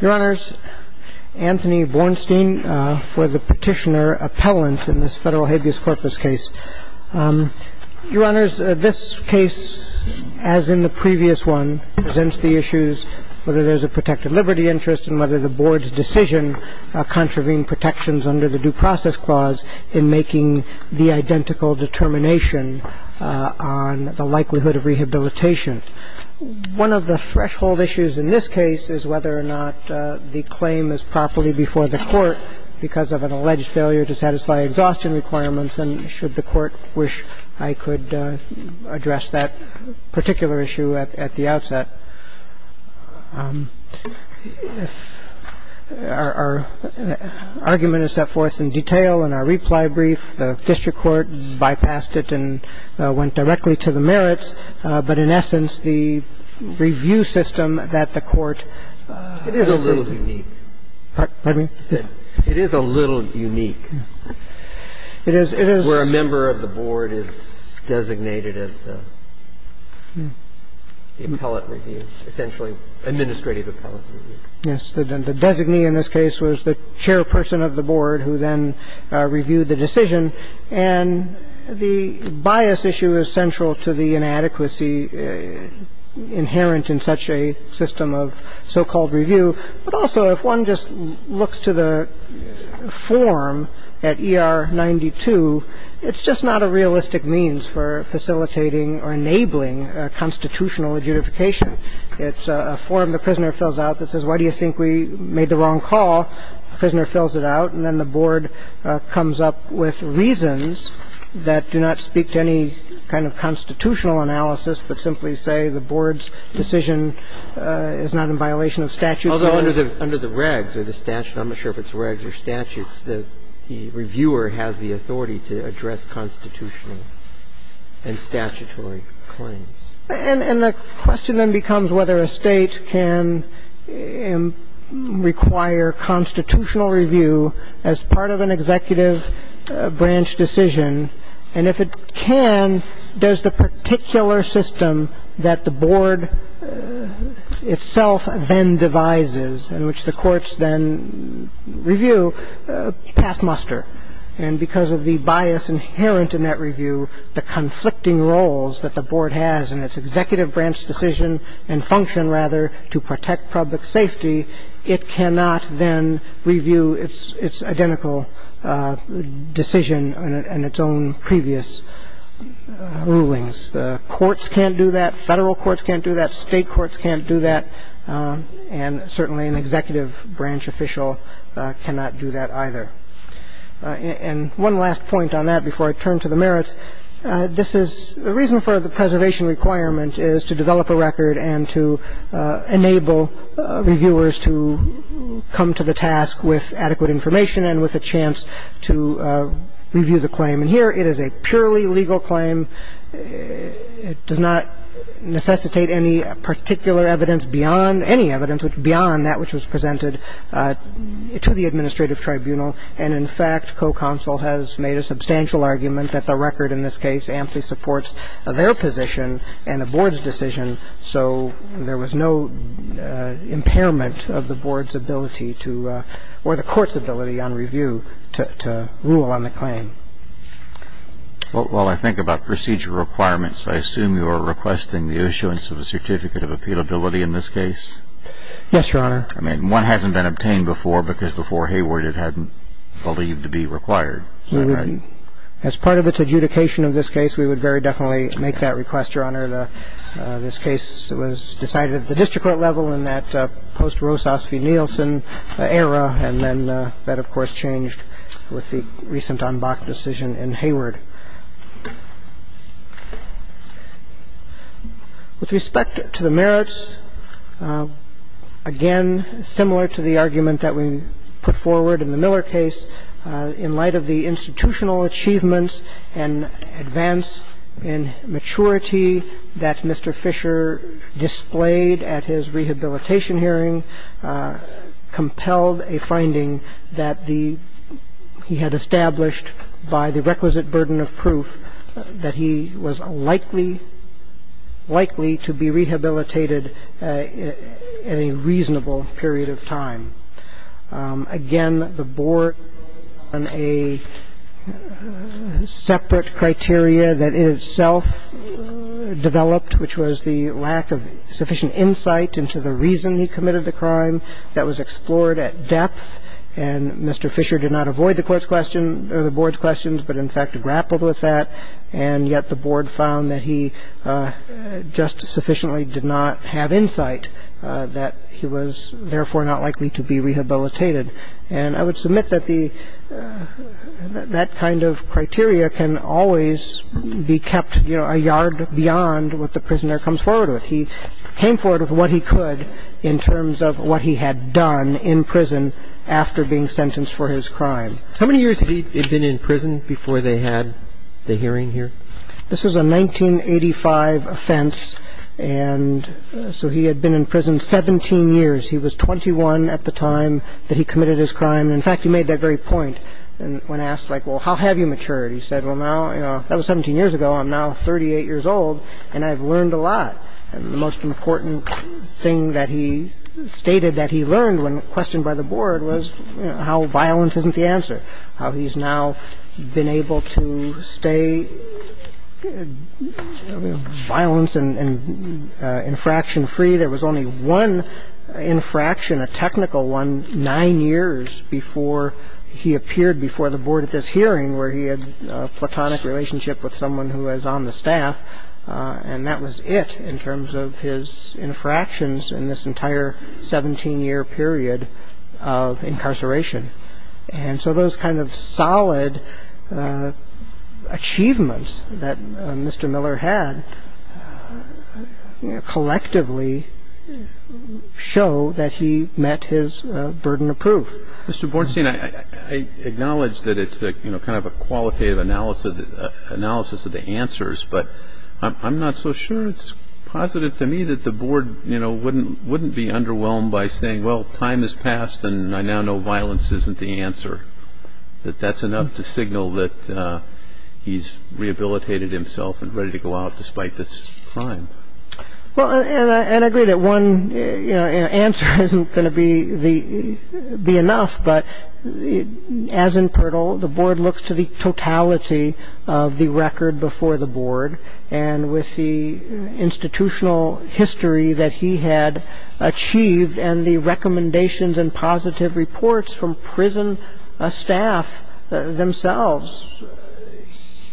Your Honors, Anthony Bornstein for the petitioner appellant in this federal habeas corpus case. Your Honors, this case, as in the previous one, presents the issues whether there's a protected liberty interest and whether the board's decision contravene protections under the due process clause in making the identical determination on the likelihood of rehabilitation. One of the threshold issues in this case is whether or not the claim is properly before the court because of an alleged failure to satisfy exhaustion requirements and should the court wish I could address that particular issue at the outset. Our argument is set forth in detail in our reply brief. The district court bypassed it and went directly to the merits. But in essence, the review system that the court is a little unique. Pardon me? It is a little unique. It is, it is. Where a member of the board is designated as the appellate review, essentially administrative appellate review. Yes. The designee in this case was the chairperson of the board who then reviewed the decision. And the bias issue is central to the inadequacy inherent in such a system of so-called review. But also, if one just looks to the form at ER 92, it's just not a realistic means for facilitating or enabling a constitutional adjudication. It's a form the prisoner fills out that says, why do you think we made the wrong call? The prisoner fills it out, and then the board comes up with reasons that do not speak to any kind of constitutional analysis, but simply say the board's decision is not in violation of statutes. Although under the regs or the statute, I'm not sure if it's regs or statutes, the reviewer has the authority to address constitutional and statutory claims. And the question then becomes whether a state can require constitutional review as part of an executive branch decision. And if it can, does the particular system that the board itself then devises, in which the courts then review, pass muster? And because of the bias inherent in that review, the conflicting roles that the board has in its executive branch decision and function, rather, to protect public safety, it cannot then review its identical decision and its own previous rulings. Courts can't do that. Federal courts can't do that. State courts can't do that. And certainly an executive branch official cannot do that either. And one last point on that before I turn to the merits, this is the reason for the preservation requirement is to develop a record and to enable reviewers to come to the task with adequate information and with a chance to review the claim. And here it is a purely legal claim. It does not necessitate any particular evidence beyond any evidence beyond that which was presented to the administrative tribunal. And, in fact, co-counsel has made a substantial argument that the record in this case amply supports their position and the board's decision, so there was no impairment of the board's ability to or the court's ability on review to rule on the claim. Well, while I think about procedure requirements, I assume you are requesting the issuance of a certificate of appealability in this case? Yes, Your Honor. I mean, one hasn't been obtained before because before Hayward it hadn't believed to be required. As part of its adjudication of this case, we would very definitely make that request, Your Honor. This case was decided at the district court level in that post-Rosas v. Nielsen era, and then that, of course, changed with the recent en banc decision in Hayward. With respect to the merits, again, similar to the argument that we put forward in the Miller case, in light of the institutional achievements and advance in maturity that Mr. Fisher displayed at his rehabilitation hearing compelled a finding that the he had established by the requisite burden of proof that he was likely, likely to be rehabilitated in a reasonable period of time. Again, the board on a separate criteria that it itself developed, which was the lack of sufficient insight into the reason he committed the crime. That was explored at depth, and Mr. Fisher did not avoid the court's question or the board's questions, but in fact grappled with that. And yet the board found that he just sufficiently did not have insight, that he was therefore not likely to be rehabilitated. And I would submit that the – that that kind of criteria can always be kept, you know, a yard beyond what the prisoner comes forward with. He came forward with what he could in terms of what he had done in prison after being sentenced for his crime. How many years had he been in prison before they had the hearing here? This was a 1985 offense, and so he had been in prison 17 years. He was 21 at the time that he committed his crime. In fact, he made that very point when asked, like, well, how have you matured? He said, well, now, you know, that was 17 years ago. I'm now 38 years old, and I've learned a lot. And the most important thing that he stated that he learned when questioned by the board was how violence isn't the answer, how he's now been able to stay violent and infraction-free. There was only one infraction, a technical one, nine years before he appeared before the board at this hearing, where he had a platonic relationship with someone who was on the staff. And that was it in terms of his infractions in this entire 17-year period of incarceration. And so those kind of solid achievements that Mr. Miller had collectively show that he met his burden of proof. Mr. Bornstein, I acknowledge that it's kind of a qualitative analysis of the answers, but I'm not so sure it's positive to me that the board, you know, wouldn't be underwhelmed by saying, well, time has passed, and I now know violence isn't the answer, that that's enough to signal that he's rehabilitated himself and ready to go out despite this crime. Well, and I agree that one answer isn't going to be enough, but as in Pirtle, the board looks to the totality of the record before the board. And with the institutional history that he had achieved and the recommendations and positive reports from prison staff themselves,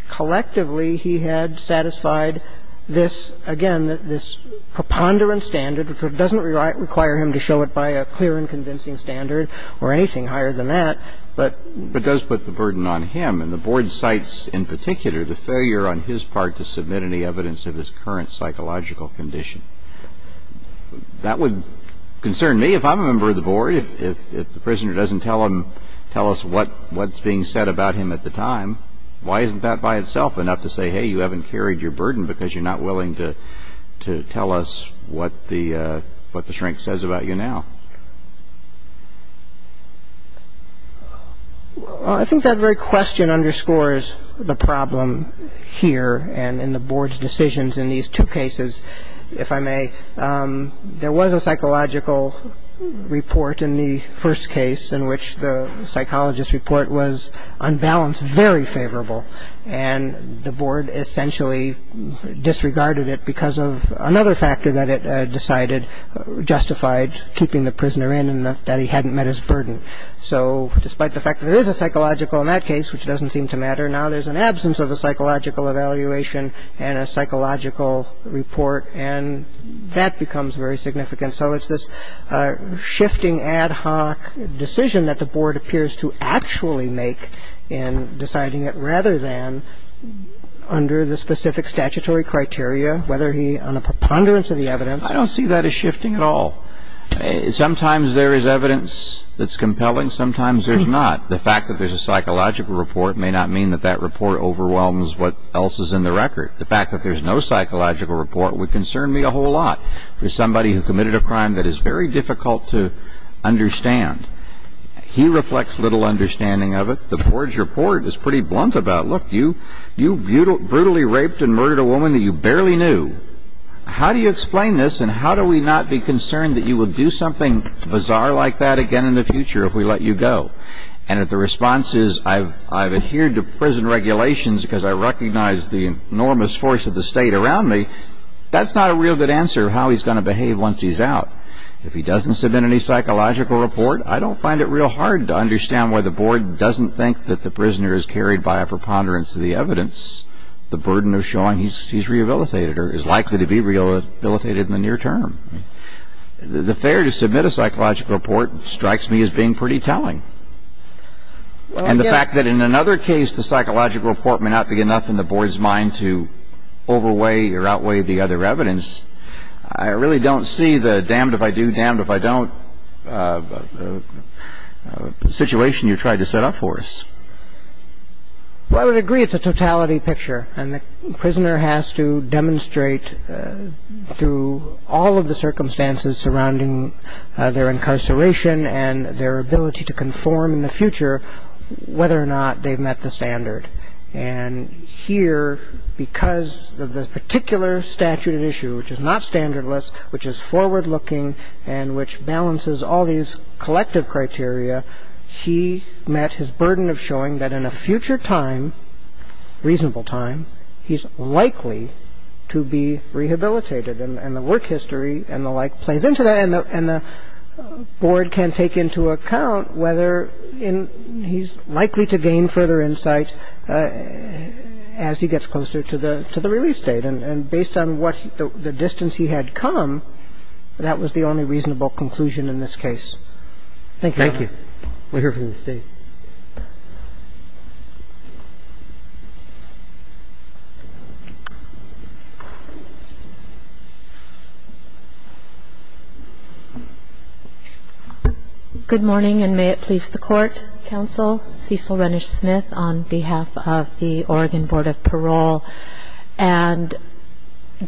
collectively he had satisfied this, again, this preponderance standard, which doesn't require him to show it by a clear and convincing standard or anything higher than that, but does put the burden on him. And the board cites in particular the failure on his part to submit any evidence of his current psychological condition. That would concern me if I'm a member of the board. If the prisoner doesn't tell us what's being said about him at the time, why isn't that by itself enough to say, hey, you haven't carried your burden because you're not willing to tell us what the shrink says about you now? Well, I think that very question underscores the problem here and in the board's decisions in these two cases, if I may. There was a psychological report in the first case in which the psychologist's report was, on balance, very favorable. And the board essentially disregarded it because of another factor that it decided justified keeping the prisoner in and that he hadn't met his burden. So despite the fact that there is a psychological in that case, which doesn't seem to matter, now there's an absence of a psychological evaluation and a psychological report, and that becomes very significant. So it's this shifting ad hoc decision that the board appears to actually make in deciding it rather than under the specific statutory criteria, whether he, on a preponderance of the evidence. I don't see that as shifting at all. Sometimes there is evidence that's compelling. Sometimes there's not. The fact that there's a psychological report may not mean that that report overwhelms what else is in the record. The fact that there's no psychological report would concern me a whole lot. There's somebody who committed a crime that is very difficult to understand. He reflects little understanding of it. The board's report is pretty blunt about, look, you brutally raped and murdered a woman that you barely knew. How do you explain this, and how do we not be concerned that you will do something bizarre like that again in the future if we let you go? And if the response is, I've adhered to prison regulations because I recognize the enormous force of the state around me, that's not a real good answer of how he's going to behave once he's out. If he doesn't submit any psychological report, I don't find it real hard to understand why the board doesn't think that the prisoner is carried by a preponderance of the evidence, the burden of showing he's rehabilitated or is likely to be rehabilitated in the near term. The failure to submit a psychological report strikes me as being pretty telling. And the fact that in another case the psychological report may not be enough in the board's mind to overweigh or outweigh the other evidence, I really don't see the damned if I do, damned if I don't situation you tried to set up for us. Well, I would agree it's a totality picture, and the prisoner has to demonstrate through all of the circumstances surrounding their incarceration and their ability to conform in the future whether or not they've met the standard. And here, because of the particular statute at issue, which is not standardless, which is forward-looking, and which balances all these collective criteria, he met his burden of showing that in a future time, reasonable time, he's likely to be rehabilitated. And the work history and the like plays into that, And the board can take into account whether he's likely to gain further insight as he gets closer to the release date. And based on what the distance he had come, that was the only reasonable conclusion in this case. Thank you. Thank you. We'll hear from the State. Good morning, and may it please the Court. Counsel Cecil Renish-Smith on behalf of the Oregon Board of Parole. And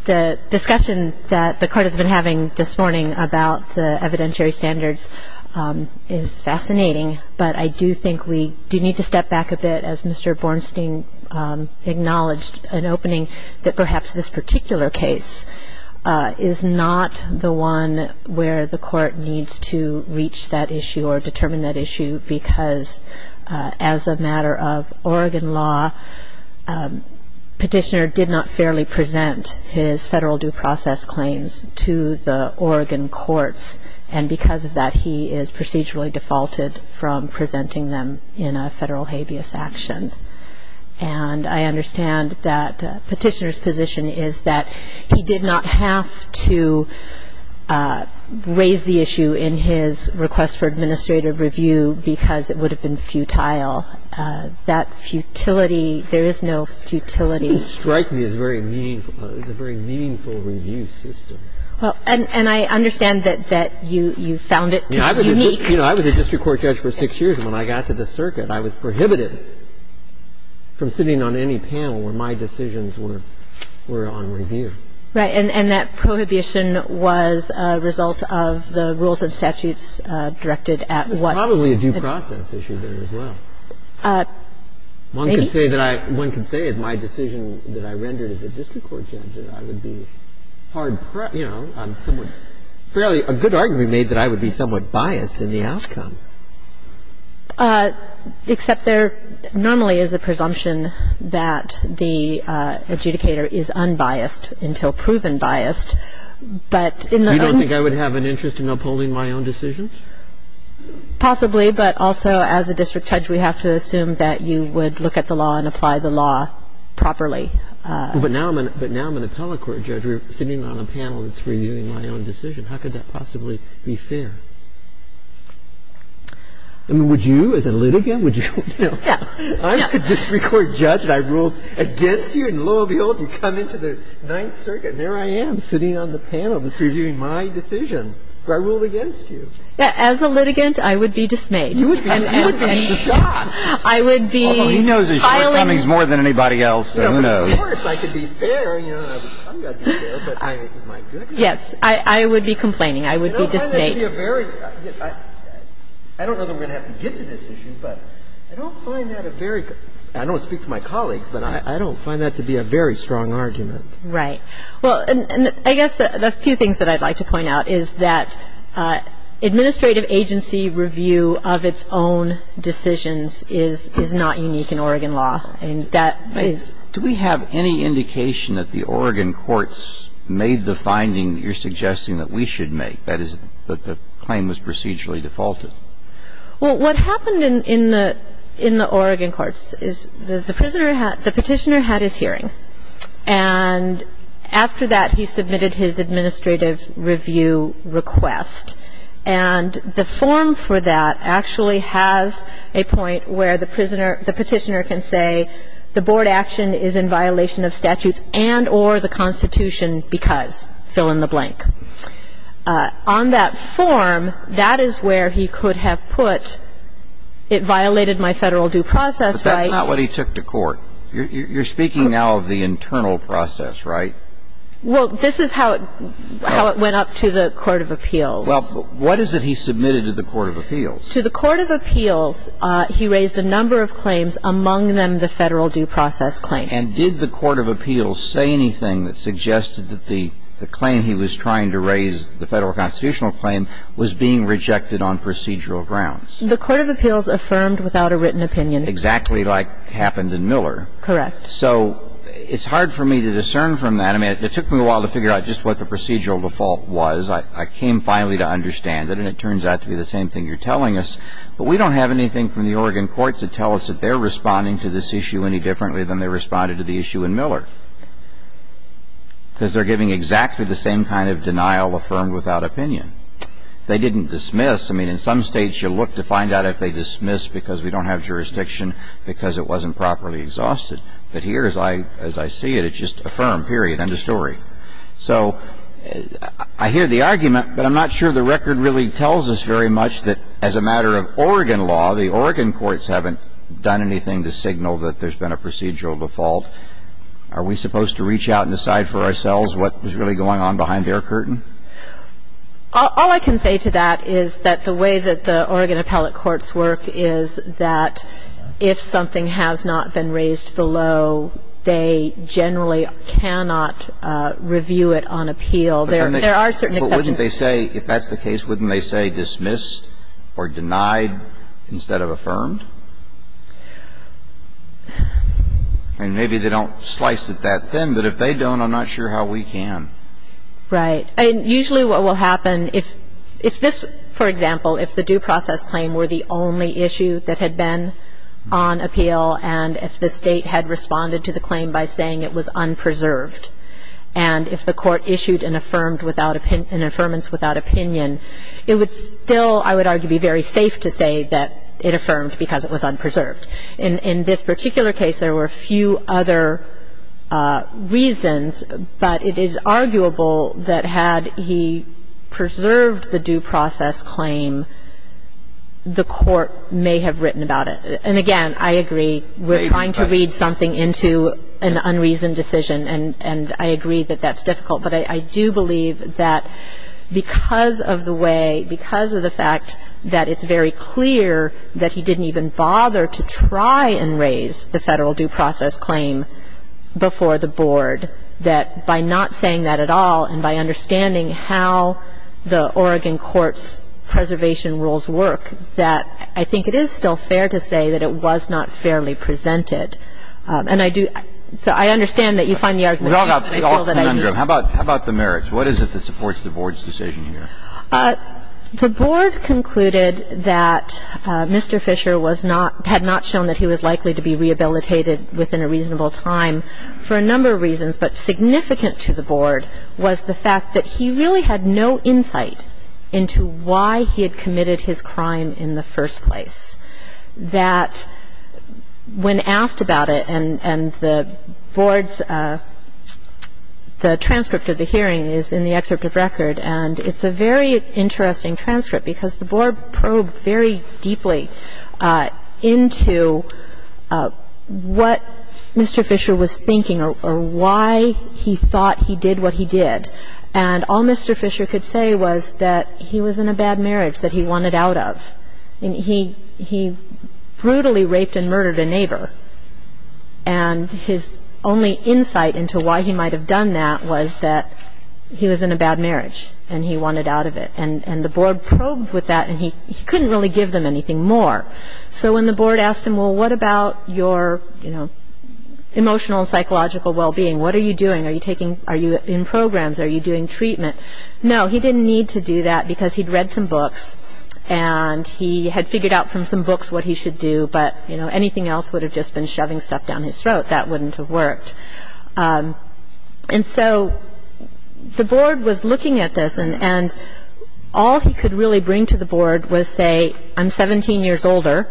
the discussion that the Court has been having this morning about the evidentiary standards is fascinating, but I do think we do need to step back a bit, as Mr. Bornstein acknowledged in opening, that perhaps this particular case is not the one where the Court needs to reach that issue or determine that issue because, as a matter of Oregon law, Petitioner did not fairly present his federal due process claims to the Oregon courts. And because of that, he is procedurally defaulted from presenting them in a federal habeas action. And I understand that Petitioner's position is that he did not have to raise the issue in his request for administrative review because it would have been futile. That futility, there is no futility. It doesn't strike me as very meaningful. It's a very meaningful review system. And I understand that you found it to be unique. I was a district court judge for six years. And when I got to the circuit, I was prohibited from sitting on any panel where my decisions were on review. Right. And that prohibition was a result of the rules and statutes directed at what? Probably a due process issue there as well. Maybe. One could say that my decision that I rendered as a district court judge, that I would be hard pressed, you know, somewhat fairly – a good argument made that I would be somewhat biased in the outcome. Except there normally is a presumption that the adjudicator is unbiased until proven biased. But in the other... You don't think I would have an interest in upholding my own decisions? Possibly. But also, as a district judge, we have to assume that you would look at the law and apply the law properly. But now I'm an appellate court judge. We're sitting on a panel that's reviewing my own decision. How could that possibly be fair? I mean, would you, as a litigant, would you? Yeah. I'm a district court judge, and I ruled against you. And lo and behold, you come into the Ninth Circuit, and there I am, sitting on the panel that's reviewing my decision. Do I rule against you? As a litigant, I would be dismayed. You would be shot. I would be filing... He knows his shortcomings more than anybody else, so who knows? Of course, I could be fair. I'm going to be fair, but my goodness. Yes, I would be complaining. I would be dismayed. I don't find that to be a very... I don't know that we're going to have to get to this issue, but I don't find that a very... I don't speak for my colleagues, but I don't find that to be a very strong argument. Right. Well, and I guess the few things that I'd like to point out is that administrative agency review of its own decisions is not unique in Oregon law, and that is... Do we have any indication that the Oregon courts made the finding that you're suggesting that we should make, that is, that the claim was procedurally defaulted? Well, what happened in the Oregon courts is the prisoner had... the Petitioner had his hearing, and after that, he submitted his administrative review request. And the form for that actually has a point where the prisoner... the Petitioner can say the board action is in violation of statutes and or the Constitution because fill in the blank. On that form, that is where he could have put it violated my Federal due process rights. But that's not what he took to court. You're speaking now of the internal process, right? Well, this is how it went up to the court of appeals. Well, what is it he submitted to the court of appeals? To the court of appeals, he raised a number of claims, among them the Federal due process claim. And did the court of appeals say anything that suggested that the claim he was trying to raise, the Federal constitutional claim, was being rejected on procedural grounds? The court of appeals affirmed without a written opinion. Exactly like happened in Miller. Correct. So it's hard for me to discern from that. I mean, it took me a while to figure out just what the procedural default was. I came finally to understand it, and it turns out to be the same thing you're telling us. But we don't have anything from the Oregon courts that tell us that they're responding to this issue any differently than they responded to the issue in Miller because they're giving exactly the same kind of denial affirmed without opinion. They didn't dismiss. I mean, in some states, you look to find out if they dismiss because we don't have anything from the Oregon courts that tells us that they're responding to this issue It's a terrible thing to say. You can't say, well, I'm exhausted. But here, as I see it, it's just affirmed, period, end of story. So I hear the argument, but I'm not sure the record really tells us very much that as a matter of Oregon law, the Oregon courts haven't done anything to signal that there's been a procedural default. But are we supposed to reach out and decide for ourselves what is really going on behind the air curtain? All I can say to that is that the way that the Oregon appellate courts work is that if something has not been raised below, they generally cannot review it on appeal. There are certain exceptions. But wouldn't they say, if that's the case, wouldn't they say dismissed or denied instead of affirmed? And maybe they don't slice it that thin, but if they don't, I'm not sure how we can. Right. And usually what will happen, if this, for example, if the due process claim were the only issue that had been on appeal, and if the state had responded to the claim by saying it was unpreserved, and if the court issued an affirmance without opinion, it would still, I would argue, be very safe to say that it affirmed because it was unpreserved. In this particular case, there were a few other reasons, but it is arguable that had he preserved the due process claim, the court may have written about it. And again, I agree, we're trying to read something into an unreasoned decision, and I agree that that's difficult. But I do believe that because of the way, because of the fact that it's very clear that he didn't even bother to try and raise the federal due process claim before the board, that by not saying that at all and by understanding how the Oregon court's preservation rules work, that I think it is still fair to say that it was not fairly presented. And I do, so I understand that you find the argument. We all commend him. How about the merits? What is it that supports the board's decision here? The board concluded that Mr. Fisher was not, had not shown that he was likely to be rehabilitated within a reasonable time for a number of reasons, but significant to the board was the fact that he really had no insight into why he had committed his crime in the first place, that when asked about it, and the board's, the transcript of the hearing is in the excerpt of record, and it's a very interesting transcript because the board probed very deeply into what Mr. Fisher was thinking or why he thought he did what he did, and all Mr. Fisher could say was that he was in a bad marriage, that he wanted out of. He brutally raped and murdered a neighbor, and his only insight into why he might have done that was that he was in a bad marriage, and he wanted out of it. And the board probed with that, and he couldn't really give them anything more. So when the board asked him, well, what about your, you know, emotional and psychological well-being? What are you doing? Are you taking, are you in programs? Are you doing treatment? No, he didn't need to do that because he'd read some books, and he had figured out from some books what he should do, but, you know, anything else would have just been shoving stuff down his throat. That wouldn't have worked. And so the board was looking at this, and all he could really bring to the board was say, I'm 17 years older,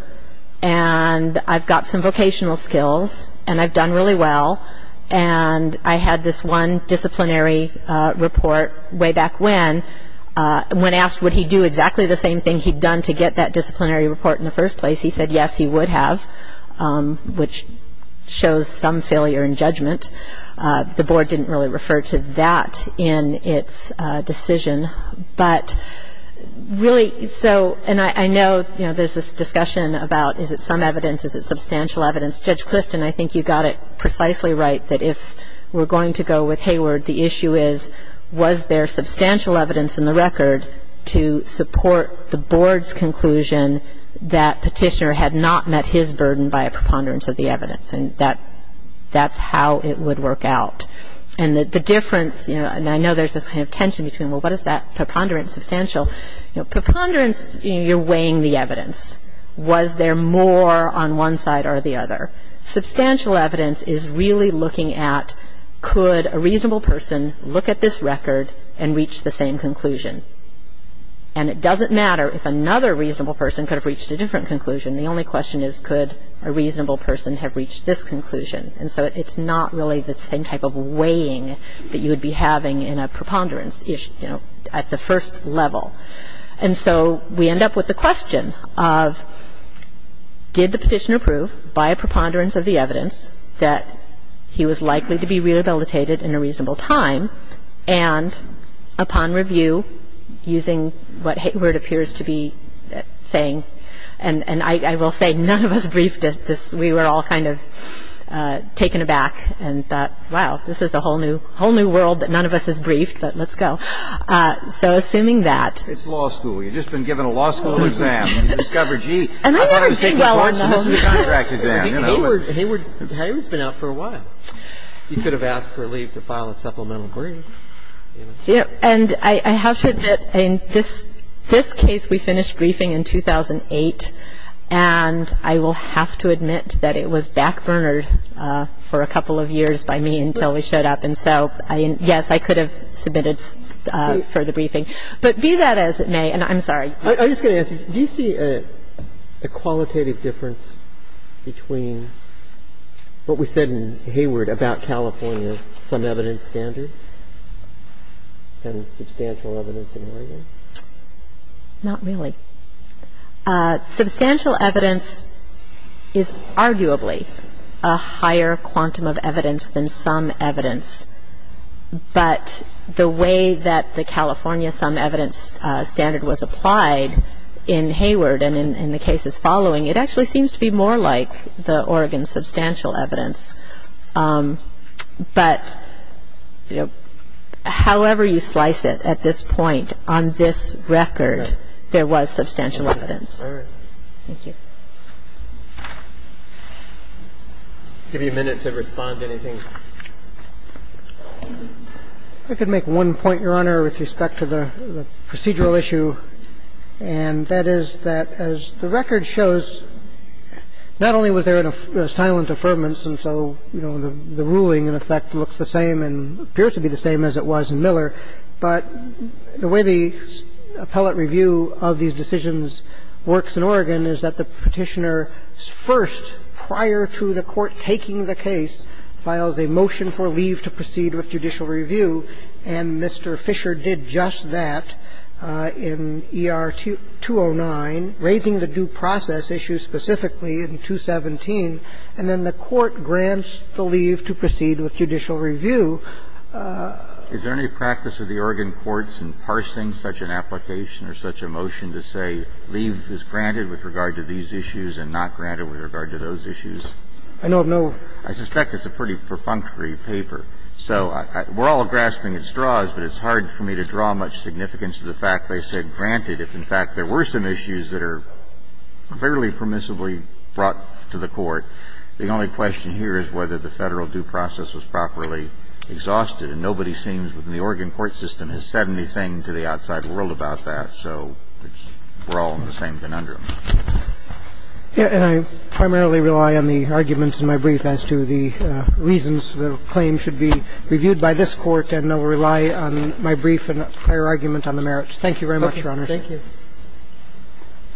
and I've got some vocational skills, and I've done really well, and I had this one disciplinary report way back when, and when asked would he do exactly the same thing he'd done to get that disciplinary report in the first place, he said yes, he would have, which shows some failure in judgment. The board didn't really refer to that in its decision. But really, so, and I know, you know, there's this discussion about is it some evidence? Is it substantial evidence? Judge Clifton, I think you got it precisely right that if we're going to go with Hayward, the issue is was there substantial evidence in the record to support the board's conclusion that Petitioner had not met his burden by a preponderance of the evidence, and that's how it would work out. And the difference, you know, and I know there's this kind of tension between, well, what is that preponderance substantial? You know, preponderance, you're weighing the evidence. Was there more on one side or the other? Substantial evidence is really looking at could a reasonable person look at this record and reach the same conclusion? And it doesn't matter if another reasonable person could have reached a different conclusion. The only question is could a reasonable person have reached this conclusion? And so it's not really the same type of weighing that you would be having in a preponderance at the first level. And so we end up with the question of did the Petitioner prove by a preponderance of the evidence that he was likely to be rehabilitated in a reasonable time, and upon review, using what Hayward appears to be saying, and I will say none of us briefed at this. We were all kind of taken aback and thought, wow, this is a whole new world that none of us has briefed, but let's go. So assuming that. It's law school. You've just been given a law school exam, and you discover, gee, I thought I was taking classes. And I never did well on those. This is a contract exam. Hayward's been out for a while. You could have asked for a leave to file a supplemental brief. And I have to admit, in this case, we finished briefing in 2008, and I will have to admit that it was backburnered for a couple of years by me until we showed up. And so, yes, I could have submitted further briefing. But be that as it may, and I'm sorry. I'm just going to ask you, do you see a qualitative difference between what we said in Hayward about California, some evidence standard, and substantial evidence in Oregon? Not really. Substantial evidence is arguably a higher quantum of evidence than some evidence. But the way that the California some evidence standard was applied in Hayward and in the cases following, it actually seems to be more like the Oregon substantial evidence. And so, yes, I do see a qualitative difference. But, you know, however you slice it at this point, on this record, there was substantial evidence. All right. Thank you. I'll give you a minute to respond to anything. I could make one point, Your Honor, with respect to the procedural issue, and that is that as the record shows, not only was there a silent affirmance, and so, you know, the ruling in effect looks the same and appears to be the same as it was in Miller, but the way the appellate review of these decisions works in Oregon is that the Petitioner first, prior to the Court taking the case, files a motion for leave to proceed with judicial review, and Mr. Fisher did just that in ER 209, raising the due process issue specifically in 217, and then the Court grants the leave to proceed with judicial review. Is there any practice of the Oregon courts in parsing such an application or such a motion to say leave is granted with regard to these issues and not granted with regard to those issues? I don't know. I suspect it's a pretty perfunctory paper. So we're all grasping at straws, but it's hard for me to draw much significance to the fact they said granted if, in fact, there were some issues that are fairly permissibly brought to the Court. The only question here is whether the Federal due process was properly exhausted, and nobody seems within the Oregon court system has said anything to the outside world about that. So we're all in the same conundrum. And I primarily rely on the arguments in my brief as to the reasons the claim should be reviewed by this Court, and I will rely on my brief and prior argument on the merits. Thank you very much, Your Honor. Thank you.